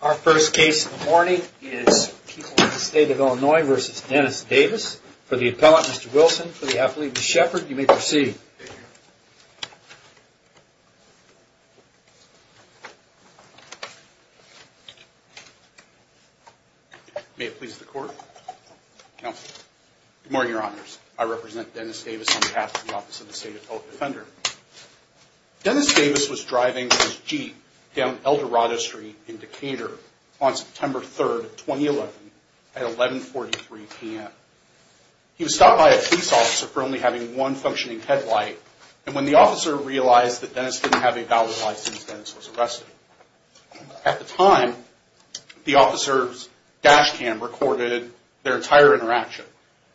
Our first case in the morning is people in the state of Illinois versus Dennis Davis for the appellant Mr. Wilson for the athlete Shepherd you may proceed May it please the court Good morning, your honors. I represent Dennis Davis on behalf of the office of the state appellate defender Dennis Davis was driving his Jeep down El Dorado Street in Decatur on September 3rd 2011 at 1143 p.m. He was stopped by a police officer for only having one functioning headlight And when the officer realized that Dennis didn't have a valid license Dennis was arrested at the time the officers Dashcam recorded their entire interaction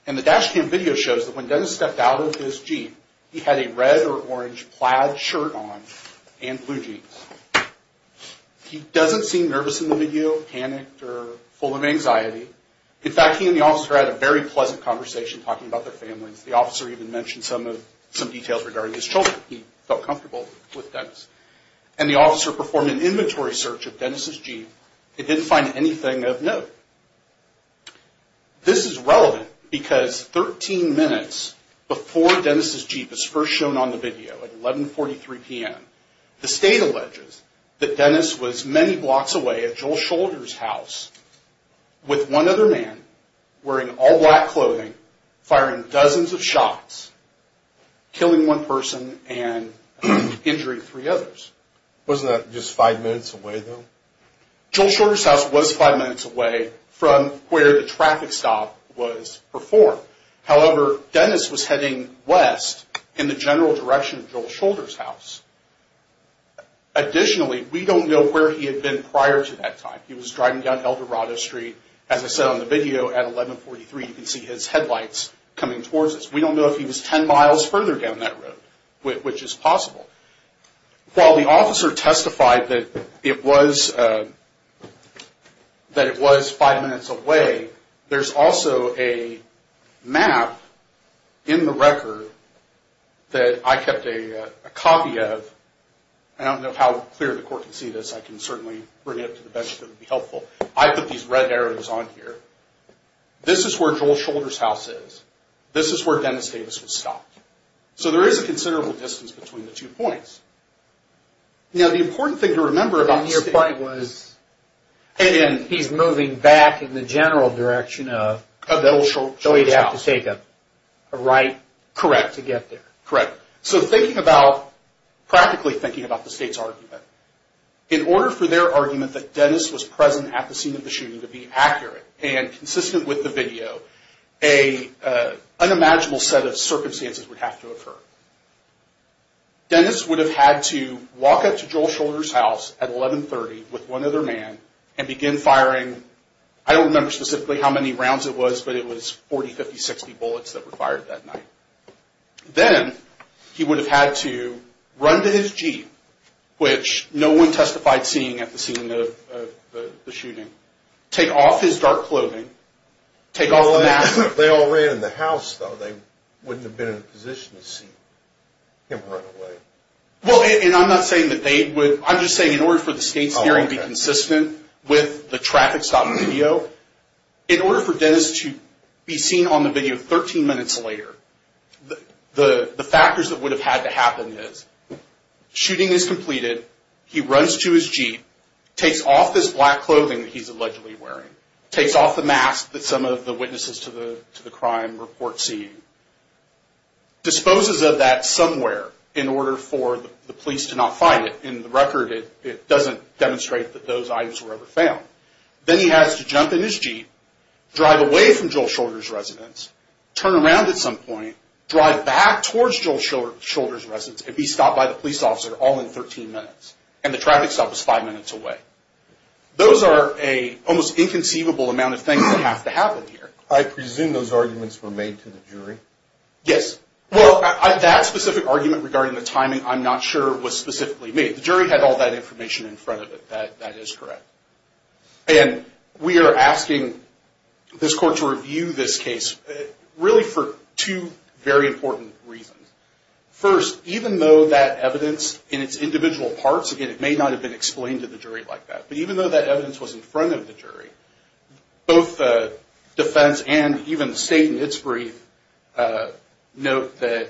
and the dashcam video shows that when Dennis stepped out of his Jeep He had a red or orange plaid shirt on and blue jeans He doesn't seem nervous in the video panicked or full of anxiety In fact, he and the officer had a very pleasant conversation talking about their families The officer even mentioned some of some details regarding his children He felt comfortable with Dennis and the officer performed an inventory search of Dennis's Jeep. They didn't find anything of note This is relevant because 13 minutes before Dennis's Jeep is first shown on the video at 1143 p.m The state alleges that Dennis was many blocks away at Joel shoulders house With one other man wearing all black clothing firing dozens of shots killing one person and Injuring three others. Wasn't that just five minutes away though? Joel shoulders house was five minutes away from where the traffic stop was performed However, Dennis was heading west in the general direction of Joel shoulders house Additionally, we don't know where he had been prior to that time He was driving down El Dorado Street as I said on the video at 1143. You can see his headlights coming towards us We don't know if he was 10 miles further down that road, which is possible while the officer testified that it was That it was five minutes away, there's also a map in the record That I kept a copy of I don't know how clear the court can see this I can certainly bring it to the bench that would be helpful. I put these red arrows on here This is where Joel shoulders house is. This is where Dennis Davis was stopped. So there is a considerable distance between the two points you know the important thing to remember about your point was And he's moving back in the general direction of a little short so he'd have to take up a right Correct to get there, correct. So thinking about practically thinking about the state's argument in order for their argument that Dennis was present at the scene of the shooting to be accurate and consistent with the video a Unimaginable set of circumstances would have to occur Then this would have had to walk up to Joel shoulders house at 1130 with one other man and begin firing I don't remember specifically how many rounds it was, but it was 40 50 60 bullets that were fired that night Then he would have had to run to his jeep Which no one testified seeing at the scene of the shooting take off his dark clothing Take all that they all ran in the house though. They wouldn't have been in a position to see Importantly, well, and I'm not saying that they would I'm just saying in order for the state's hearing be consistent with the traffic stop video In order for Dennis to be seen on the video 13 minutes later The the factors that would have had to happen is Shooting is completed. He runs to his jeep takes off this black clothing He's allegedly wearing takes off the mask that some of the witnesses to the to the crime report see Disposes of that somewhere in order for the police to not find it in the record It doesn't demonstrate that those items were ever found then he has to jump in his jeep Drive away from Joel shoulders residence turn around at some point drive back towards Joel Shoulders residence if he stopped by the police officer all in 13 minutes and the traffic stop was five minutes away Those are a almost inconceivable amount of things that have to happen here. I presume those arguments were made to the jury Yes, well that specific argument regarding the timing I'm not sure was specifically made the jury had all that information in front of it that that is correct And we are asking This court to review this case really for two very important reasons First even though that evidence in its individual parts again It may not have been explained to the jury like that, but even though that evidence was in front of the jury both Defense and even the state in its brief note that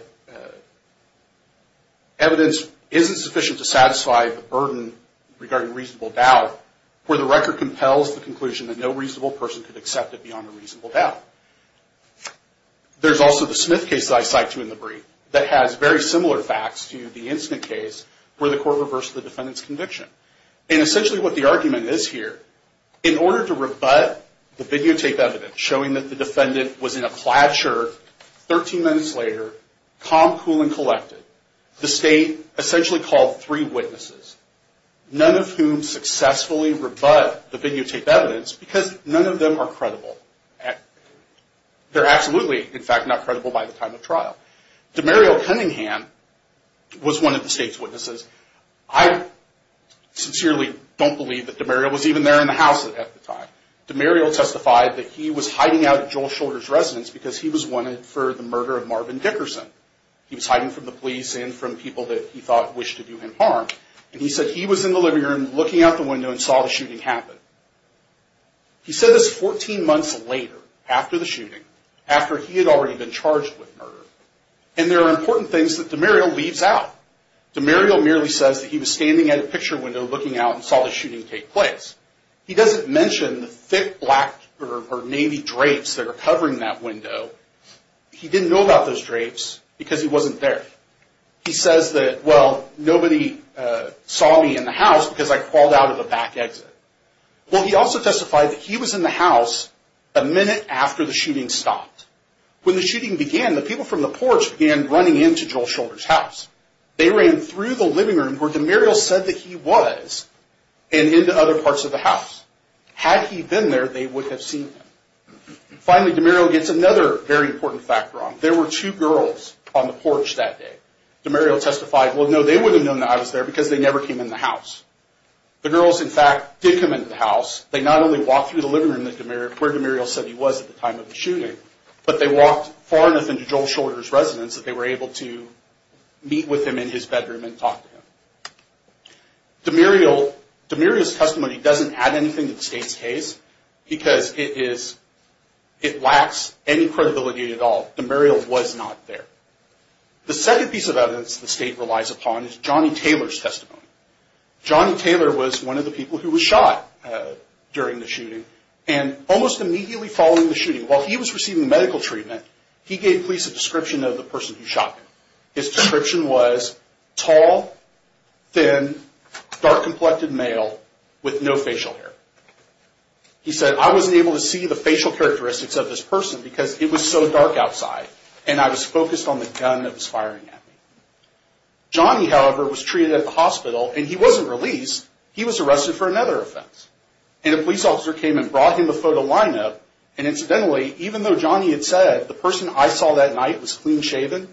Evidence isn't sufficient to satisfy the burden regarding reasonable doubt Where the record compels the conclusion that no reasonable person could accept it beyond a reasonable doubt There's also the Smith case that I cite to in the brief that has very similar facts to the incident case Where the court reversed the defendants conviction and essentially what the argument is here in order to rebut the videotape evidence Showing that the defendant was in a plait shirt 13 minutes later calm cool and collected the state essentially called three witnesses None of whom successfully rebut the videotape evidence because none of them are credible They're absolutely in fact not credible by the time of trial DeMario Cunningham was one of the state's witnesses. I Sincerely don't believe that DeMario was even there in the house at the time DeMario testified that he was hiding out at Joel shoulders residence because he was wanted for the murder of Marvin Dickerson He was hiding from the police and from people that he thought wished to do him harm And he said he was in the living room looking out the window and saw the shooting happen he said this 14 months later after the shooting after he had already been charged with murder and There are important things that DeMario leaves out DeMario merely says that he was standing at a picture window looking out and saw the shooting take place He doesn't mention the thick black or navy drapes that are covering that window He didn't know about those drapes because he wasn't there. He says that well nobody Saw me in the house because I crawled out of the back exit Well, he also testified that he was in the house a minute after the shooting stopped When the shooting began the people from the porch began running into Joel shoulders house they ran through the living room where DeMario said that he was and Into other parts of the house had he been there they would have seen Finally DeMario gets another very important fact wrong. There were two girls on the porch that day DeMario testified Well, no, they wouldn't know that I was there because they never came in the house The girls in fact did come into the house They not only walk through the living room that DeMario where DeMario said he was at the time of the shooting But they walked far enough into Joel shoulders residence that they were able to Meet with him in his bedroom and talk to him DeMario DeMario's testimony doesn't add anything to the state's case because it is It lacks any credibility at all. DeMario was not there The second piece of evidence the state relies upon is Johnny Taylor's testimony Johnny Taylor was one of the people who was shot During the shooting and almost immediately following the shooting while he was receiving medical treatment He gave police a description of the person who shot him. His description was tall Thin dark complected male with no facial hair He said I wasn't able to see the facial characteristics of this person because it was so dark outside And I was focused on the gun that was firing at me Johnny, however was treated at the hospital and he wasn't released he was arrested for another offense and a police officer came and brought him a photo lineup and Incidentally, even though Johnny had said the person I saw that night was clean-shaven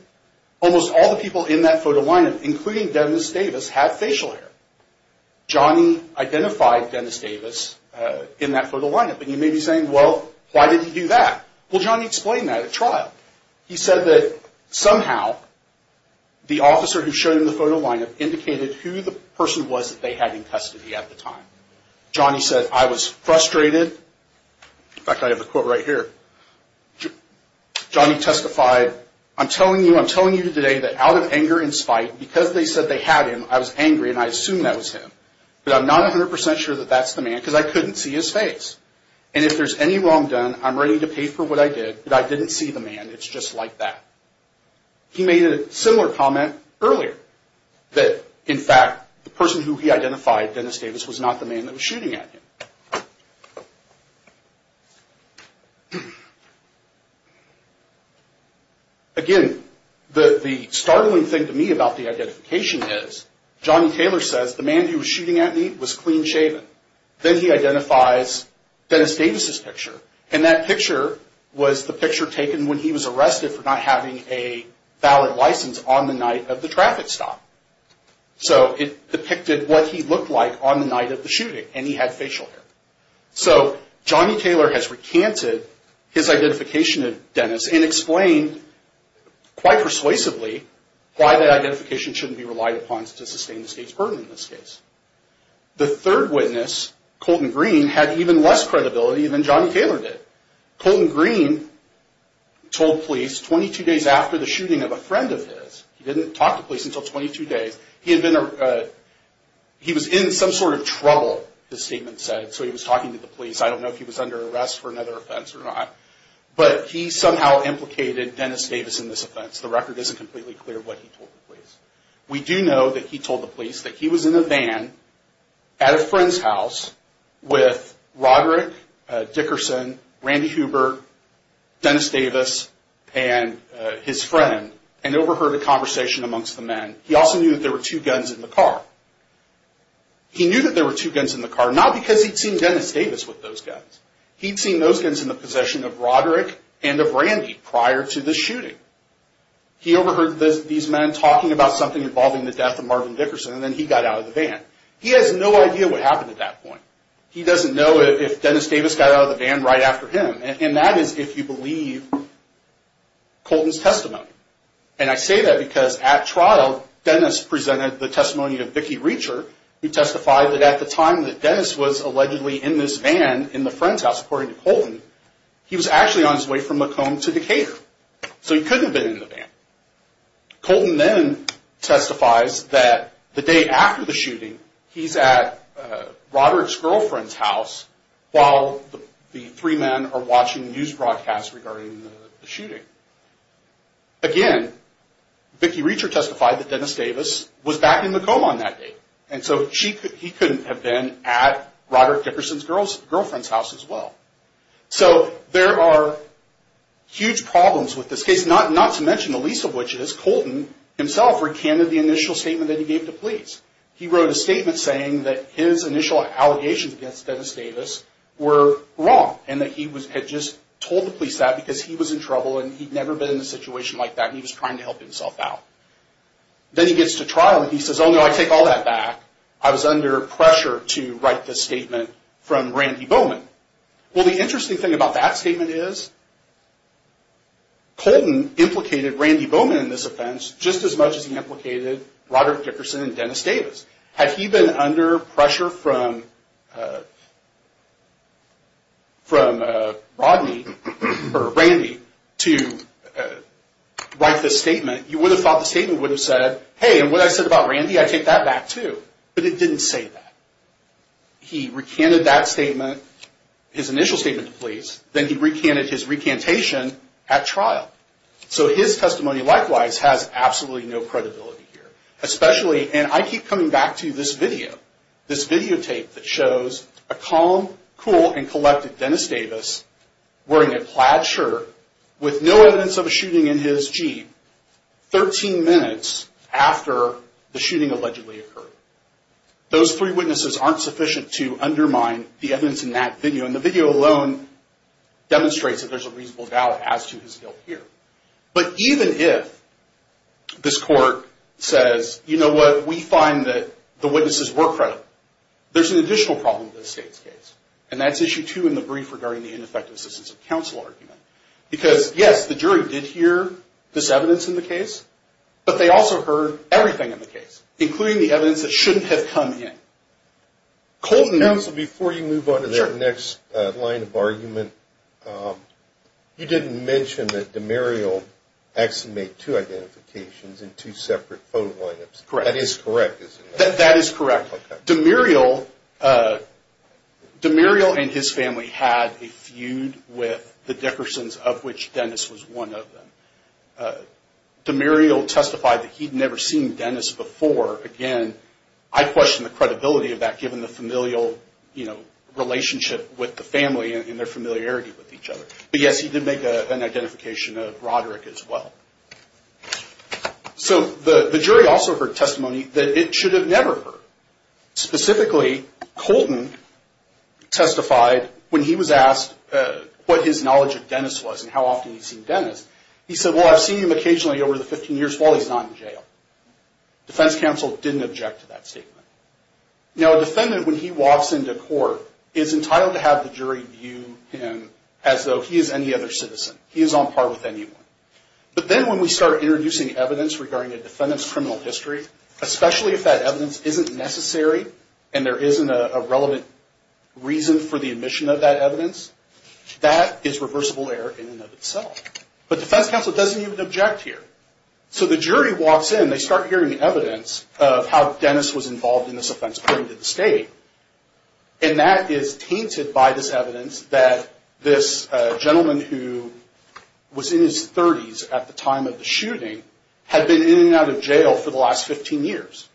Almost all the people in that photo lineup, including Dennis Davis had facial hair Johnny identified Dennis Davis in that photo lineup, but you may be saying well, why did he do that? Well, Johnny explained that at trial. He said that somehow The officer who showed him the photo lineup indicated who the person was that they had in custody at the time Johnny said I was frustrated In fact, I have a quote right here Johnny testified I'm telling you I'm telling you today that out of anger and spite because they said they had him I was angry and I assumed that was him But I'm not a hundred percent sure that that's the man because I couldn't see his face And if there's any wrong done, I'm ready to pay for what I did, but I didn't see the man. It's just like that He made a similar comment earlier that in fact the person who he identified Dennis Davis was not the man that was shooting at him Again The the startling thing to me about the identification is Johnny Taylor says the man who was shooting at me was clean-shaven Then he identifies Dennis Davis's picture and that picture was the picture taken when he was arrested for not having a valid license on the night of the traffic stop So it depicted what he looked like on the night of the shooting and he had facial hair So Johnny Taylor has recanted his identification of Dennis and explained Quite persuasively why that identification shouldn't be relied upon to sustain the state's burden in this case The third witness Colton Green had even less credibility than Johnny Taylor did Colton Green Told police 22 days after the shooting of a friend of his he didn't talk to police until 22 days. He had been He was in some sort of trouble the statement said so he was talking to the police I don't know if he was under arrest for another offense or not But he somehow implicated Dennis Davis in this offense. The record isn't completely clear what he told the police We do know that he told the police that he was in a van at a friend's house with Roderick Dickerson Randy Huber Dennis Davis and His friend and overheard a conversation amongst the men he also knew that there were two guns in the car He knew that there were two guns in the car not because he'd seen Dennis Davis with those guns He'd seen those guns in the possession of Roderick and of Randy prior to the shooting He overheard this these men talking about something involving the death of Marvin Dickerson, and then he got out of the van He has no idea what happened at that point He doesn't know if Dennis Davis got out of the van right after him and that is if you believe Colton's testimony, and I say that because at trial Dennis presented the testimony of Vicki Reacher He testified that at the time that Dennis was allegedly in this van in the friend's house according to Colton He was actually on his way from Macomb to the cave so he couldn't have been in the van Colton then Testifies that the day after the shooting he's at Girlfriend's house while the three men are watching news broadcasts regarding the shooting again Vicki Reacher testified that Dennis Davis was back in Macomb on that day And so she could he couldn't have been at Robert Dickerson's girls girlfriend's house as well so there are Huge problems with this case not not to mention the least of which is Colton Himself recanted the initial statement that he gave to police He wrote a statement saying that his initial allegations against Dennis Davis Were wrong and that he was had just told the police that because he was in trouble and he'd never been in a situation like That he was trying to help himself out Then he gets to trial and he says oh no I take all that back I was under pressure to write this statement from Randy Bowman. Well the interesting thing about that statement is Colton implicated Randy Bowman in this offense just as much as he implicated Robert Dickerson and Dennis Davis had he been under pressure from From Rodney or Randy to Write this statement you would have thought the statement would have said hey and what I said about Randy I take that back too, but it didn't say that He recanted that statement His initial statement to police then he recanted his recantation at trial So his testimony likewise has absolutely no credibility here Especially and I keep coming back to this video this videotape that shows a calm cool and collected Dennis Davis Wearing a plaid shirt with no evidence of a shooting in his jeep 13 minutes after the shooting allegedly occurred Those three witnesses aren't sufficient to undermine the evidence in that video and the video alone Demonstrates that there's a reasonable doubt as to his guilt here, but even if This court says you know what we find that the witnesses were credit There's an additional problem with the state's case and that's issue two in the brief regarding the ineffective assistance of counsel argument Because yes the jury did hear this evidence in the case But they also heard everything in the case including the evidence that shouldn't have come in Colton knows before you move on to their next line of argument You didn't mention that the Muriel Exhumate two identifications in two separate photo lineups credit is correct. That is correct the Muriel The Muriel and his family had a feud with the Dickerson's of which Dennis was one of them The Muriel testified that he'd never seen Dennis before again I question the credibility of that given the familial, you know Relationship with the family and their familiarity with each other. But yes, he did make an identification of Roderick as well So the the jury also heard testimony that it should have never heard specifically Colton Testified when he was asked What his knowledge of Dennis was and how often he's seen Dennis he said well I've seen him occasionally over the 15 years while he's not in jail Defense counsel didn't object to that statement Now a defendant when he walks into court is entitled to have the jury view him as though he is any other citizen He is on par with anyone, but then when we start introducing evidence regarding a defendant's criminal history Especially if that evidence isn't necessary and there isn't a relevant Reason for the admission of that evidence That is reversible error in and of itself, but defense counsel doesn't even object here so the jury walks in they start hearing the evidence of how Dennis was involved in this offense according to the state and That is tainted by this evidence that this gentleman who? Was in his 30s at the time of the shooting had been in and out of jail for the last 15 years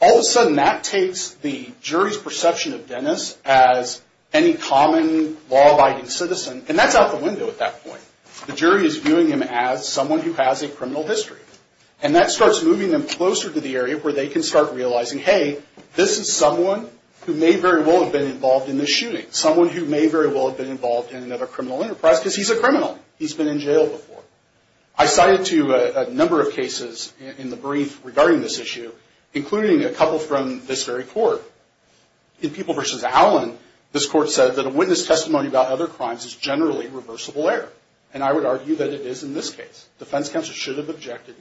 All of a sudden that takes the jury's perception of Dennis as Any common law-abiding citizen and that's out the window at that point The jury is viewing him as someone who has a criminal history and that starts moving them closer to the area where they can start Realizing hey This is someone who may very well have been involved in this shooting someone who may very well have been involved in another criminal Enterprise because he's a criminal he's been in jail before I Including a couple from this very court In people versus Allen this court said that a witness testimony about other crimes is generally reversible error And I would argue that it is in this case defense counsel should have objected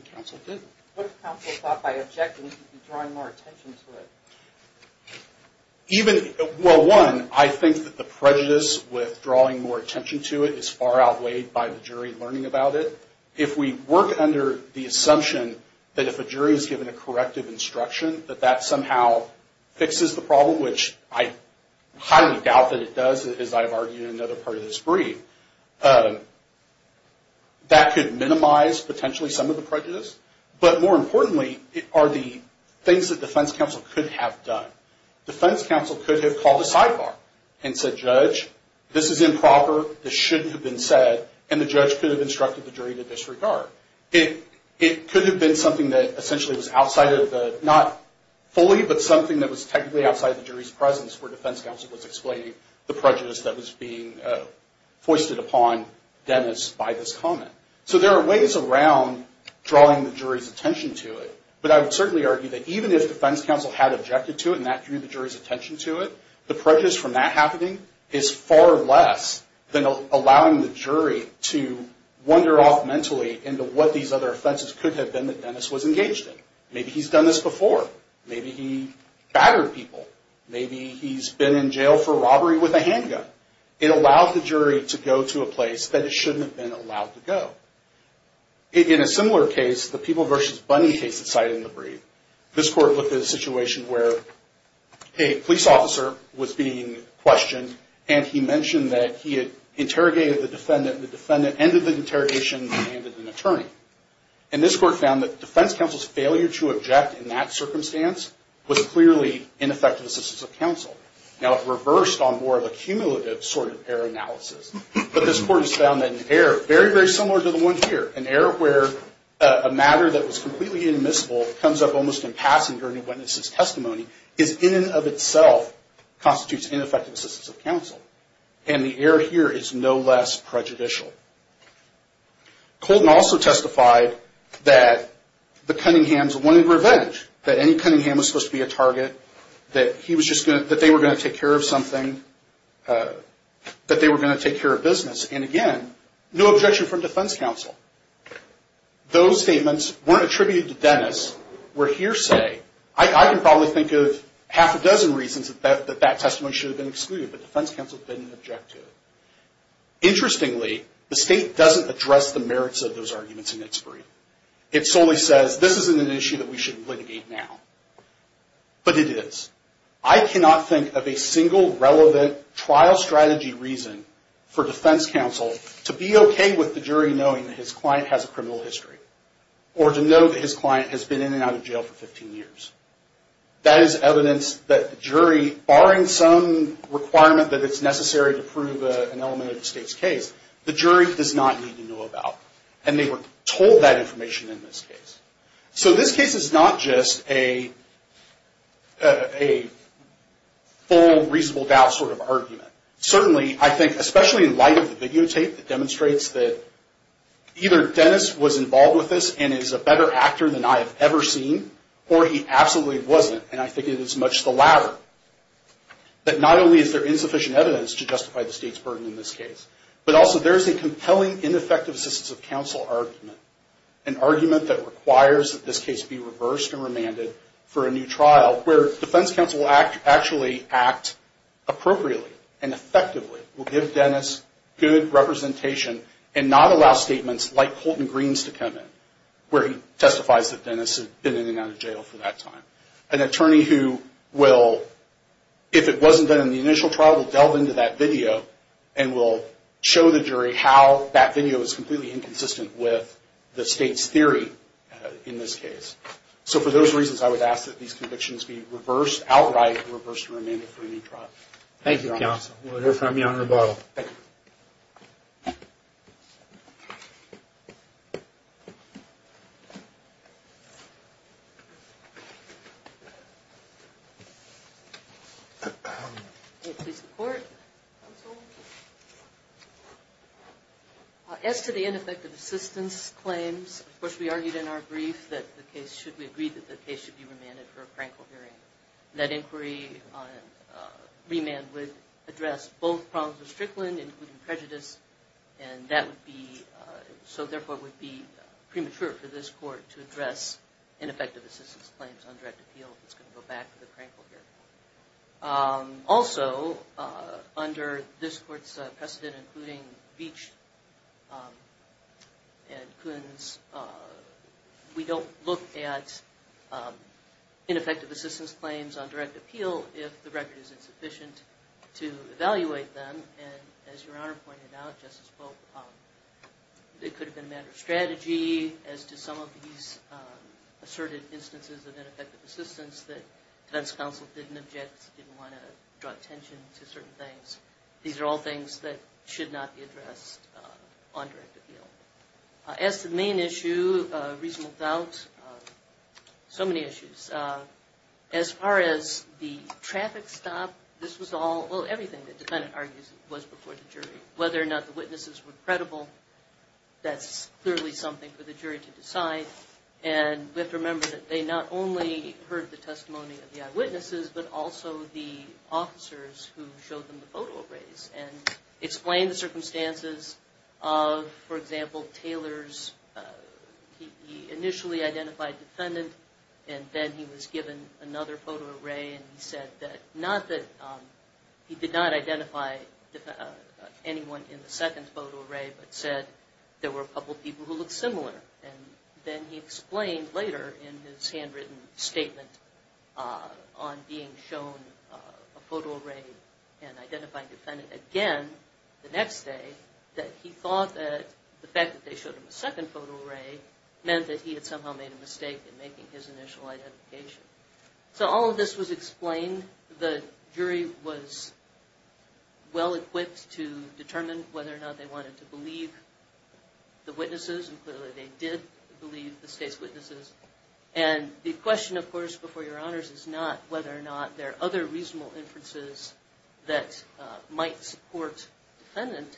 Even well one I think that the prejudice with drawing more attention to it is far outweighed by the jury learning about it if We work under the assumption that if a jury is given a corrective instruction that that somehow Fixes the problem, which I highly doubt that it does as I've argued another part of this brief That could minimize potentially some of the prejudice But more importantly it are the things that defense counsel could have done Defense counsel could have called a sidebar and said judge This is improper this shouldn't have been said and the judge could have instructed the jury to disregard it It could have been something that essentially was outside of the not Fully, but something that was technically outside the jury's presence for defense counsel was explaining the prejudice that was being Foisted upon Dennis by this comment, so there are ways around Drawing the jury's attention to it But I would certainly argue that even if the fence counsel had objected to it and that drew the jury's attention to it the prejudice From that happening is far less than allowing the jury to Wonder off mentally into what these other offenses could have been that Dennis was engaged in maybe he's done this before Maybe he battered people Maybe he's been in jail for robbery with a handgun it allowed the jury to go to a place that it shouldn't have been allowed to go in a similar case the people versus bunny case decided in the brief this court with this situation where a Police officer was being questioned and he mentioned that he had interrogated the defendant the defendant ended the interrogation Attorney and this court found that defense counsel's failure to object in that circumstance was clearly ineffective assistance of counsel Now it reversed on more of a cumulative sort of error analysis But this court has found that an error very very similar to the one here an error where a matter that was completely Inmissible comes up almost in passing during a witness's testimony is in and of itself Constitutes ineffective assistance of counsel and the error here is no less prejudicial Colton also testified that The Cunninghams wanted revenge that any Cunningham was supposed to be a target That he was just good that they were going to take care of something That they were going to take care of business and again no objection from defense counsel Those statements weren't attributed to Dennis were hearsay I can probably think of half a dozen reasons that that that testimony should have been excluded, but defense counsel didn't object to Interestingly the state doesn't address the merits of those arguments in its brief. It solely says this isn't an issue that we shouldn't litigate now But it is I cannot think of a single relevant trial strategy reason for defense counsel To be okay with the jury knowing his client has a criminal history or to know that his client has been in and out of jail for 15 years That is evidence that the jury barring some Requirement that it's necessary to prove an element of the state's case The jury does not need to know about and they were told that information in this case. So this case is not just a A full reasonable doubt sort of argument certainly, I think especially in light of the videotape that demonstrates that Either Dennis was involved with this and is a better actor than I have ever seen or he absolutely wasn't and I think it is much the latter But not only is there insufficient evidence to justify the state's burden in this case but also there's a compelling ineffective assistance of counsel argument an Where defense counsel act actually act Appropriately and effectively will give Dennis good representation and not allow statements like Colton Greene's to come in where he testifies that Dennis has been in and out of jail for that time an attorney who will if it wasn't done in the initial trial will delve into that video and will Show the jury how that video is completely inconsistent with the state's theory in this case So for those reasons, I would ask that these convictions be reversed outright reversed remaining for any trial, thank you As To the ineffective assistance claims, of course We argued in our brief that the case should be agreed that the case should be remanded for a prank or hearing that inquiry Remand would address both problems of Strickland including prejudice and that would be So therefore would be premature for this court to address Ineffective assistance claims on direct appeal. It's going to go back to the crank over Also under this court's precedent including Beach And Coons We don't look at Ineffective assistance claims on direct appeal if the record is insufficient to evaluate them and as your honor pointed out It could have been a matter of strategy as to some of these Asserted instances of ineffective assistance that defense counsel didn't object didn't want to draw attention to certain things These are all things that should not be addressed on direct appeal as the main issue reasonable doubts So many issues As far as the traffic stop, this was all well everything that defendant argues was before the jury whether or not the witnesses were credible that's clearly something for the jury to decide and we have to remember that they not only heard the testimony of the eyewitnesses, but also the officers who showed them the photo arrays and explain the circumstances of for example Taylor's Initially identified defendant and then he was given another photo array and he said that not that He did not identify anyone in the second photo array But said there were a couple people who look similar and then he explained later in his handwritten statement on being shown a photo array and Identifying defendant again the next day that he thought that the fact that they showed him a second photo array meant that he had somehow made a mistake in making his initial identification, so all of this was explained the jury was Well equipped to determine whether or not they wanted to believe the witnesses and clearly they did believe the state's witnesses and The question of course before your honors is not whether or not there are other reasonable inferences that Might support defendant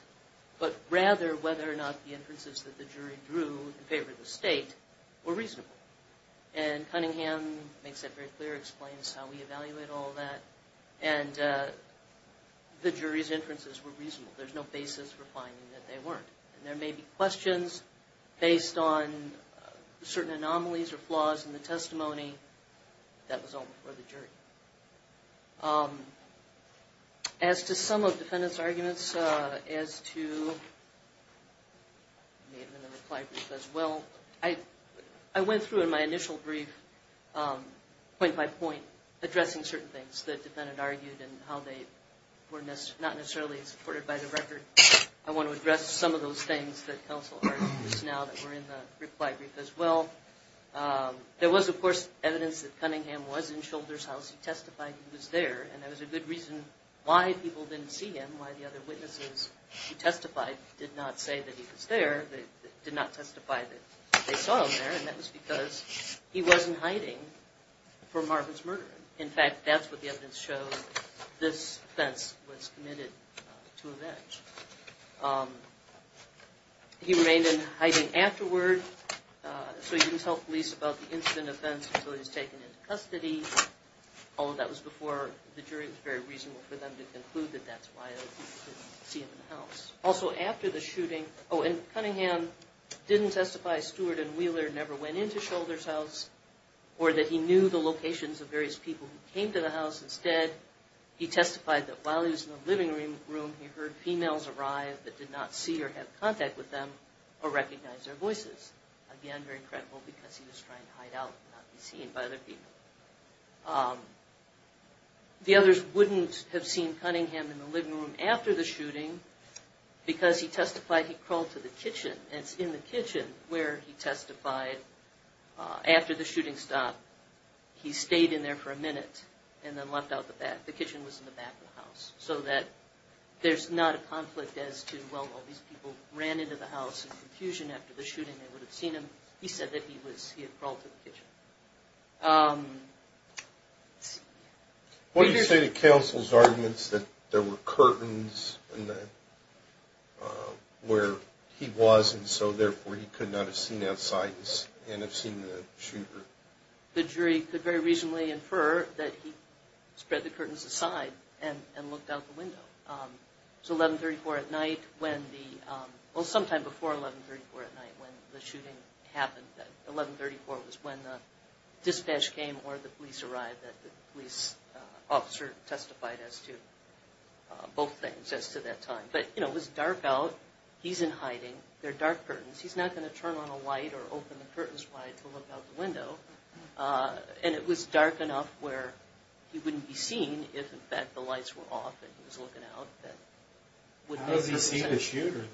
but rather whether or not the inferences that the jury drew in favor of the state were reasonable and Cunningham makes it very clear explains how we evaluate all that and The jury's inferences were reasonable there's no basis for finding that they weren't and there may be questions based on Certain anomalies or flaws in the testimony That was all before the jury As to some of defendants arguments as to Well I I went through in my initial brief point by point Addressing certain things that defendant argued and how they were missed not necessarily supported by the record I want to address some of those things that counsel Now that we're in the reply brief as well There was of course evidence that Cunningham was in shoulders house he testified he was there And there was a good reason why people didn't see him why the other witnesses He testified did not say that he was there that did not testify that they saw him there and that was because he wasn't hiding For Marvin's murder in fact. That's what the evidence shows this fence was committed to a bench He remained in hiding afterward So you can tell police about the incident of fence until he's taken into custody All of that was before the jury was very reasonable for them to conclude that that's why See him in the house also after the shooting. Oh and Cunningham Didn't testify Stewart and Wheeler never went into shoulders house Or that he knew the locations of various people who came to the house instead He testified that while he was in the living room room He heard females arrived that did not see or have contact with them or recognize their voices Again, very credible because he was trying to hide out not be seen by other people The others wouldn't have seen Cunningham in the living room after the shooting Because he testified he crawled to the kitchen. It's in the kitchen where he testified after the shooting stopped he stayed in there for a minute and then left out the back the kitchen was in the back of the house so that There's not a conflict as to well Ran into the house and confusion after the shooting they would have seen him. He said that he was he had crawled to the kitchen What do you say to counsel's arguments that there were curtains in the Where he was and so therefore he could not have seen outside this and have seen the shooter The jury could very reasonably infer that he spread the curtains aside and and looked out the window It's 1134 at night when the well sometime before 1134 at night when the shooting happened 1134 was when the Dispatch came or the police arrived that the police officer testified as to Both things as to that time, but you know it was dark out. He's in hiding. They're dark curtains He's not going to turn on a light or open the curtains wide to look out the window And it was dark enough where he wouldn't be seen if in fact the lights were off He was looking out that Would he see the shooter there?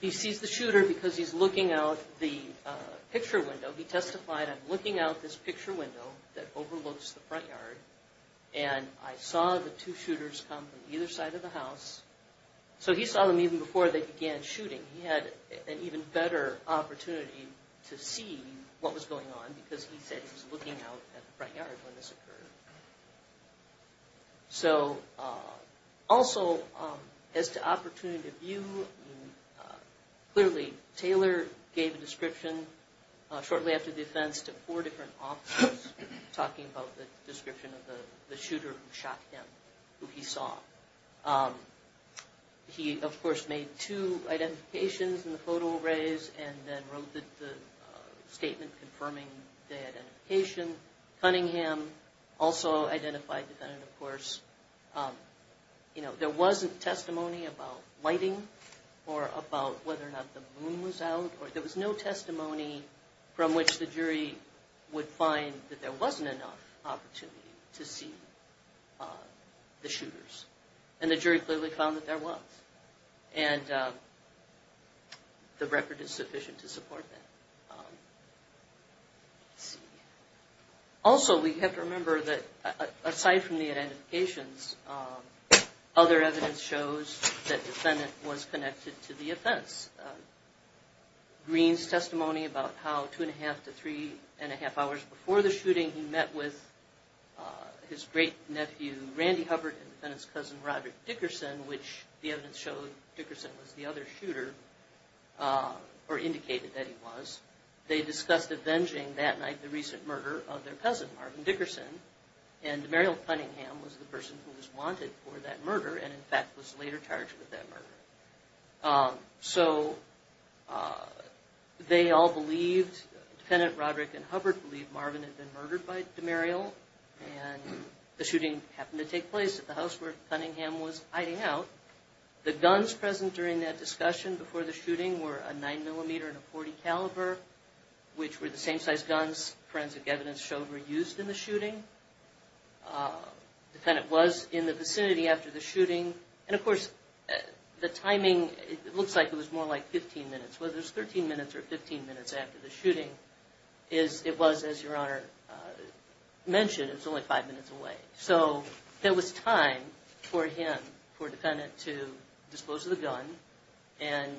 He sees the shooter because he's looking out the picture window. He testified I'm looking out this picture window that overlooks the front yard, and I saw the two shooters come from either side of the house So he saw them even before they began shooting he had an even better Opportunity to see what was going on because he said he's looking out at the front yard when this occurred So Also as to opportunity of you Clearly Taylor gave a description Shortly after the offense to four different officers talking about the description of the shooter who shot him who he saw He of course made two identifications in the photo arrays and then wrote that the statement confirming the Identification Cunningham also identified that and of course You know there wasn't testimony about lighting or about whether or not the moon was out Or there was no testimony from which the jury would find that there wasn't enough opportunity to see the shooters and the jury clearly found that there was and The record is sufficient to support that Also, we have to remember that aside from the identifications Other evidence shows that defendant was connected to the offense Green's testimony about how two and a half to three and a half hours before the shooting he met with His great nephew Randy Hubbard and his cousin Roger Dickerson, which the evidence showed Dickerson was the other shooter Or indicated that he was they discussed avenging that night the recent murder of their cousin Marvin Dickerson and Mariel Cunningham was the person who was wanted for that murder and in fact was later charged with that murder so They all believed defendant Roderick and Hubbard believed Marvin had been murdered by Demariel and The shooting happened to take place at the house where Cunningham was hiding out The guns present during that discussion before the shooting were a nine millimeter and a 40 caliber Which were the same size guns forensic evidence showed were used in the shooting Defendant was in the vicinity after the shooting and of course The timing it looks like it was more like 15 minutes. Well, there's 13 minutes or 15 minutes after the shooting is It was as your honor Mentioned it's only five minutes away. So there was time for him for defendant to dispose of the gun and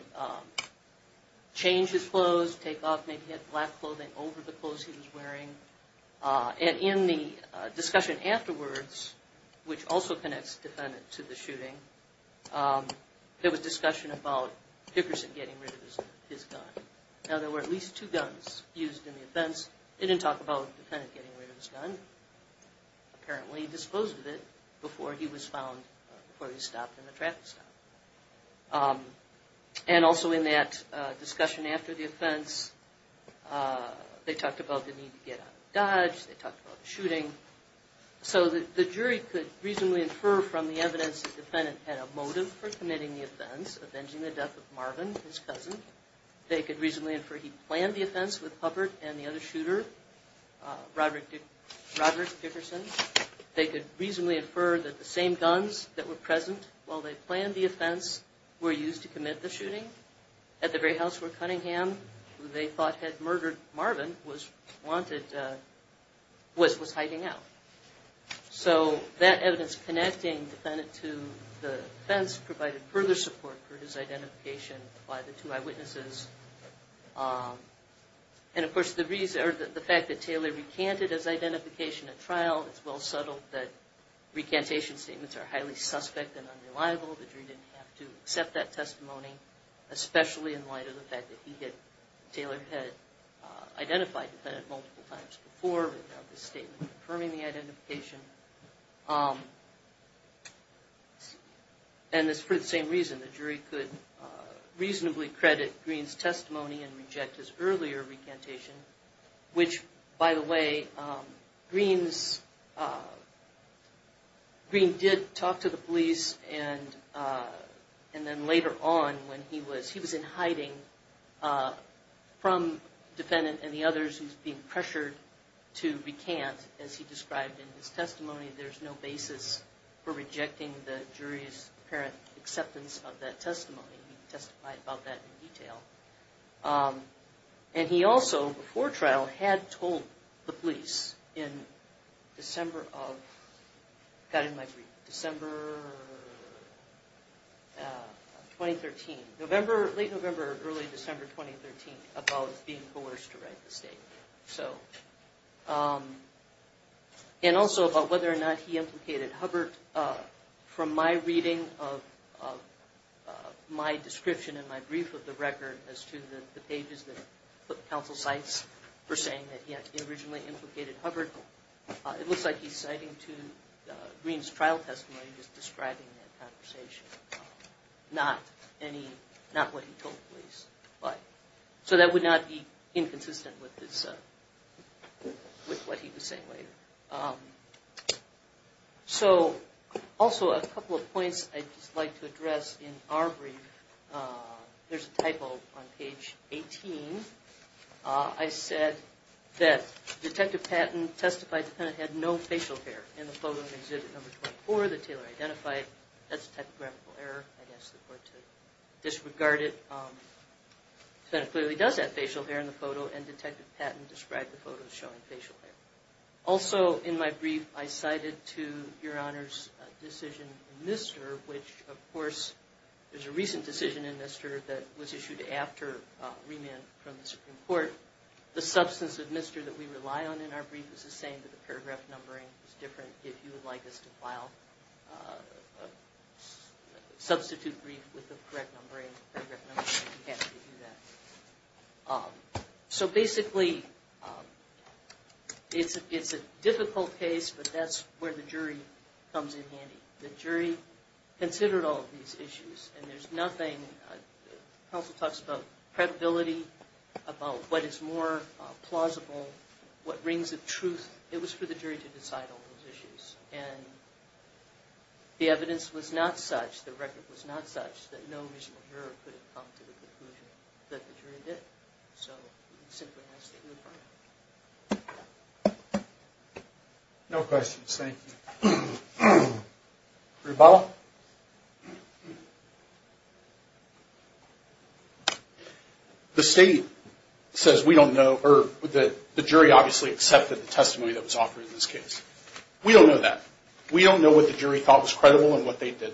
Change his clothes take off. Maybe he had black clothing over the clothes. He was wearing And in the discussion afterwards Which also connects defendant to the shooting? There was discussion about Dickerson getting rid of his gun. Now there were at least two guns used in the offense. They didn't talk about the defendant getting rid of his gun Apparently he disposed of it before he was found before he stopped in the traffic stop And also in that discussion after the offense They talked about the need to get out of Dodge. They talked about the shooting So the jury could reasonably infer from the evidence the defendant had a motive for committing the offense avenging the death of Marvin his cousin They could reasonably infer he planned the offense with Hubbard and the other shooter Robert Roberts Dickerson They could reasonably infer that the same guns that were present while they planned the offense Were used to commit the shooting at the very house where Cunningham they thought had murdered Marvin was wanted Was was hiding out So that evidence connecting defendant to the fence provided further support for his identification by the two eyewitnesses And of course the reason or the fact that Taylor recanted his identification at trial. It's well subtle that Recantation statements are highly suspect and unreliable the jury didn't have to accept that testimony Especially in light of the fact that he did Taylor had Identified that multiple times before the statement confirming the identification And It's for the same reason the jury could Reasonably credit Green's testimony and reject his earlier recantation Which by the way? greens Green did talk to the police and and then later on when he was he was in hiding From Defendant and the others who's being pressured to recant as he described in his testimony There's no basis for rejecting the jury's apparent acceptance of that testimony He testified about that in detail and he also before trial had told the police in December of got in my brief December Of 2013 November late November early December 2013 about being coerced to write the state so And also about whether or not he implicated Hubbard from my reading of My description in my brief of the record as to the pages that put counsel sites for saying that he had originally implicated Hubbard It looks like he's citing to Green's trial testimony just describing that conversation Not any not what he told police, but so that would not be inconsistent with this With what he was saying later So also a couple of points, I'd just like to address in our brief There's a typo on page 18 I Said that Detective Patton testified the penitent had no facial hair in the photo exhibit number 24 that Taylor identified That's a typographical error. I guess the court to disregard it Then it clearly does have facial hair in the photo and Detective Patton described the photos showing facial hair Also in my brief I cited to your honors decision in this serve Which of course there's a recent decision in this serve that was issued after Remand from the Supreme Court the substance of mister that we rely on in our brief is the same that the paragraph numbering is different If you would like us to file Substitute brief with the correct numbering So basically It's it's a difficult case, but that's where the jury comes in handy the jury Considered all of these issues, and there's nothing Also talks about credibility About what is more plausible what rings of truth it was for the jury to decide all those issues and The evidence was not such the record was not such that no reason No questions, thank you Rebel The State Says we don't know or that the jury obviously accepted the testimony that was offered in this case. We don't know that We don't know what the jury thought was credible and what they did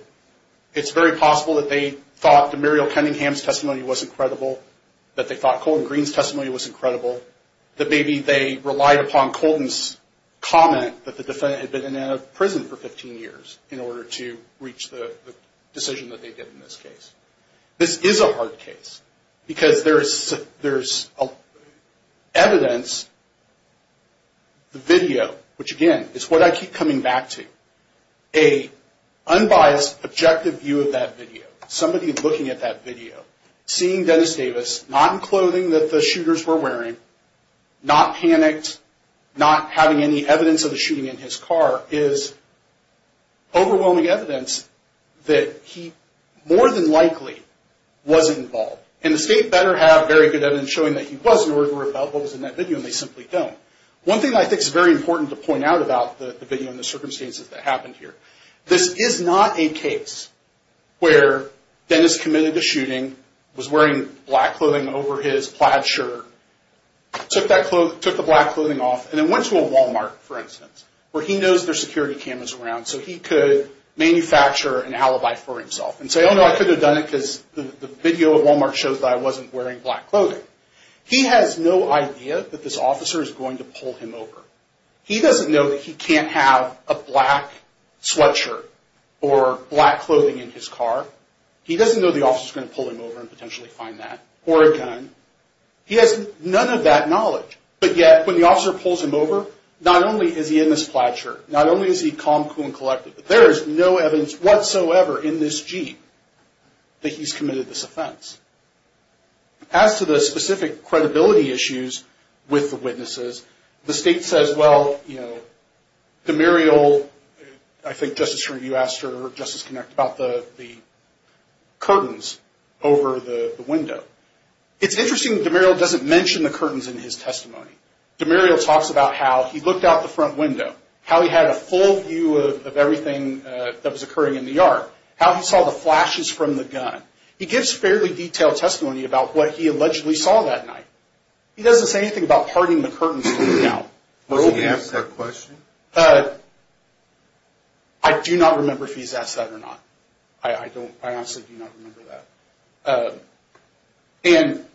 It's very possible that they thought the Muriel Cunningham's testimony wasn't credible that they thought Colton Greene's testimony was incredible That maybe they relied upon Colton's Comment that the defendant had been in a prison for 15 years in order to reach the decision that they did in this case this is a hard case because there's there's a evidence the video which again is what I keep coming back to a Unbiased objective view of that video somebody looking at that video seeing Dennis Davis not in clothing that the shooters were wearing not panicked not having any evidence of the shooting in his car is Overwhelming evidence that he more than likely Was involved and the state better have very good evidence showing that he was in order to repel what was in that video They simply don't one thing I think is very important to point out about the video in the circumstances that happened here This is not a case Where Dennis committed the shooting was wearing black clothing over his plaid shirt? Took that clothes took the black clothing off and it went to a Walmart for instance where he knows their security cameras around so he could Manufacture an alibi for himself and say oh no I could have done it because the video of Walmart shows that I wasn't wearing black clothing He has no idea that this officer is going to pull him over. He doesn't know that he can't have a black sweatshirt or Black clothing in his car. He doesn't know the officer's going to pull him over and potentially find that or a gun He has none of that knowledge, but yet when the officer pulls him over not only is he in this plaid shirt Not only is he calm cool and collected, but there is no evidence whatsoever in this jeep That he's committed this offense As to the specific credibility issues with the witnesses the state says well, you know the Muriel I think justice review asked her justice connect about the the curtains over the window It's interesting the mural doesn't mention the curtains in his testimony The Muriel talks about how he looked out the front window how he had a full view of everything That was occurring in the yard how he saw the flashes from the gun He gives fairly detailed testimony about what he allegedly saw that night. He doesn't say anything about parting the curtains Question but I Do not remember if he's asked that or not. I I don't I honestly do not remember that And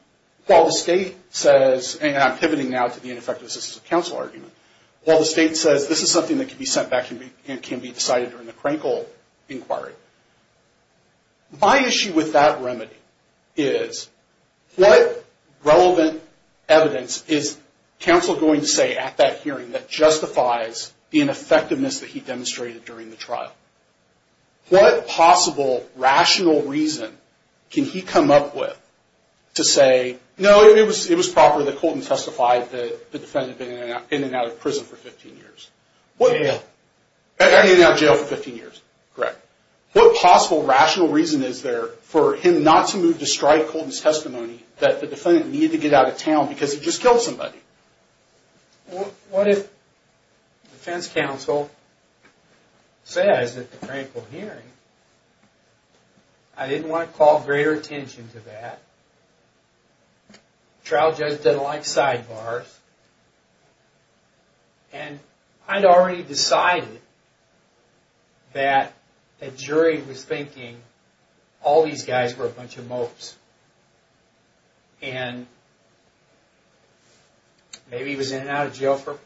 While the state says and I'm pivoting now to the ineffective assistance of counsel argument Well, the state says this is something that can be sent back to me and can be decided during the Krenkel inquiry my issue with that remedy is What? relevant evidence is Counsel going to say at that hearing that justifies the ineffectiveness that he demonstrated during the trial What possible rational reason can he come up with To say no, it was it was proper that Colton testified that the defendant in and out of prison for 15 years. Well, yeah And in our jail for 15 years, correct What possible rational reason is there for him not to move to strike Colton's testimony? That the defendant needed to get out of town because he just killed somebody What if defense counsel Says that the Krenkel hearing I Didn't want to call greater attention to that Trial judge didn't like sidebars and I'd already decided that a jury was thinking all these guys were a bunch of mopes and Maybe he was in and out of jail for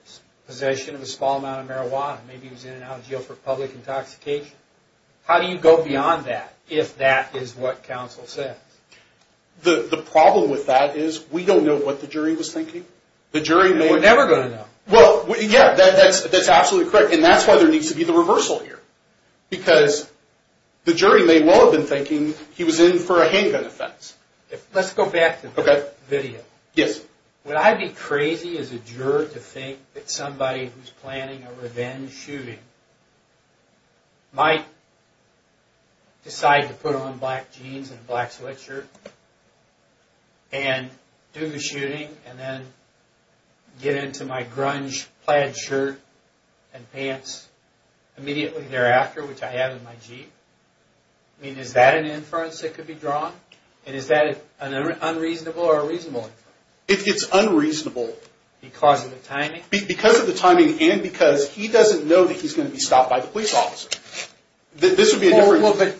possession of a small amount of marijuana. Maybe he was in and out of jail for public intoxication How do you go beyond that if that is what counsel said? The the problem with that is we don't know what the jury was thinking the jury no, we're never gonna know Well, yeah, that's that's absolutely correct. And that's why there needs to be the reversal here because The jury may well have been thinking he was in for a handgun offense. Let's go back to the video Yes, would I be crazy as a juror to think that somebody who's planning a revenge shooting? might Decide to put on black jeans and a black sweatshirt and Do the shooting and then Get into my grunge plaid shirt and pants Immediately thereafter which I have in my Jeep. I It's unreasonable Because of the timing because of the timing and because he doesn't know that he's going to be stopped by the police officer that this would be a different look but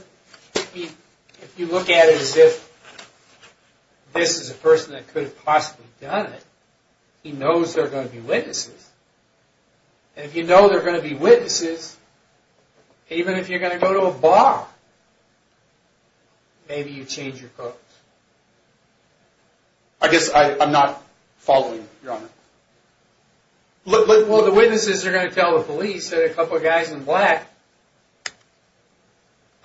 if you look at it as if This is a person that could have possibly done it. He knows they're going to be witnesses And if you know, they're going to be witnesses Even if you're gonna go to a bar Maybe you change your clothes I I'm not following Look look. Well, the witnesses are going to tell the police that a couple of guys in black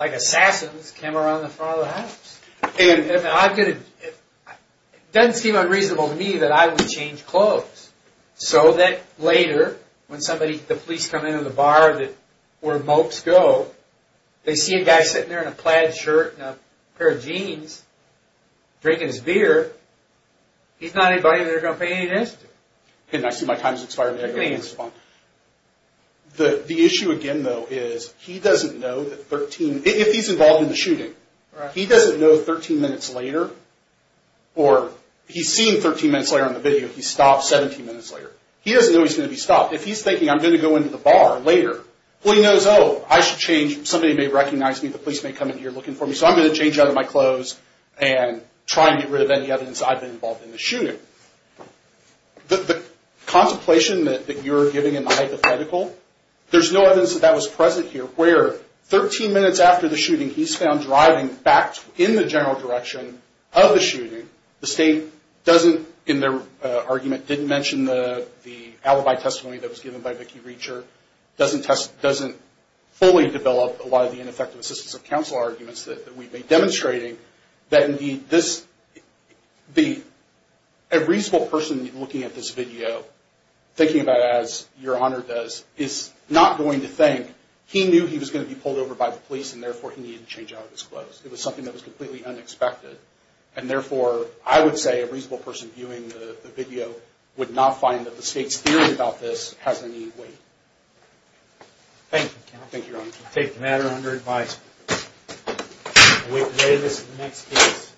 Like assassins came around the father Doesn't seem unreasonable to me that I would change clothes So that later when somebody the police come into the bar that where mopes go They see a guy sitting there in a plaid shirt and a pair of jeans Drinking his beer He's not anybody. They're gonna pay this and I see my time's expired. I think it's fun The the issue again, though is he doesn't know that 13 if he's involved in the shooting. He doesn't know 13 minutes later Or he's seen 13 minutes later on the video. He stopped 17 minutes later He doesn't know he's gonna be stopped if he's thinking I'm gonna go into the bar later Well, he knows. Oh, I should change somebody may recognize me. The police may come in here looking for me so I'm going to change out of my clothes and Trying to get rid of any evidence. I've been involved in the shooting the Contemplation that you're giving in the hypothetical There's no evidence that that was present here where 13 minutes after the shooting He's found driving back in the general direction of the shooting The state doesn't in their argument didn't mention the the alibi testimony that was given by Vicki reacher Doesn't test doesn't fully develop a lot of the ineffective assistance of counsel arguments that we've been demonstrating That indeed this be a reasonable person looking at this video Thinking about as your honor does is not going to think he knew he was going to be pulled over by the police and therefore He didn't change out of his clothes It was something that was completely unexpected and therefore I would say a reasonable person viewing the video Would not find that the state's theory about this has any weight Thank you, thank you take the matter under advice We play this next piece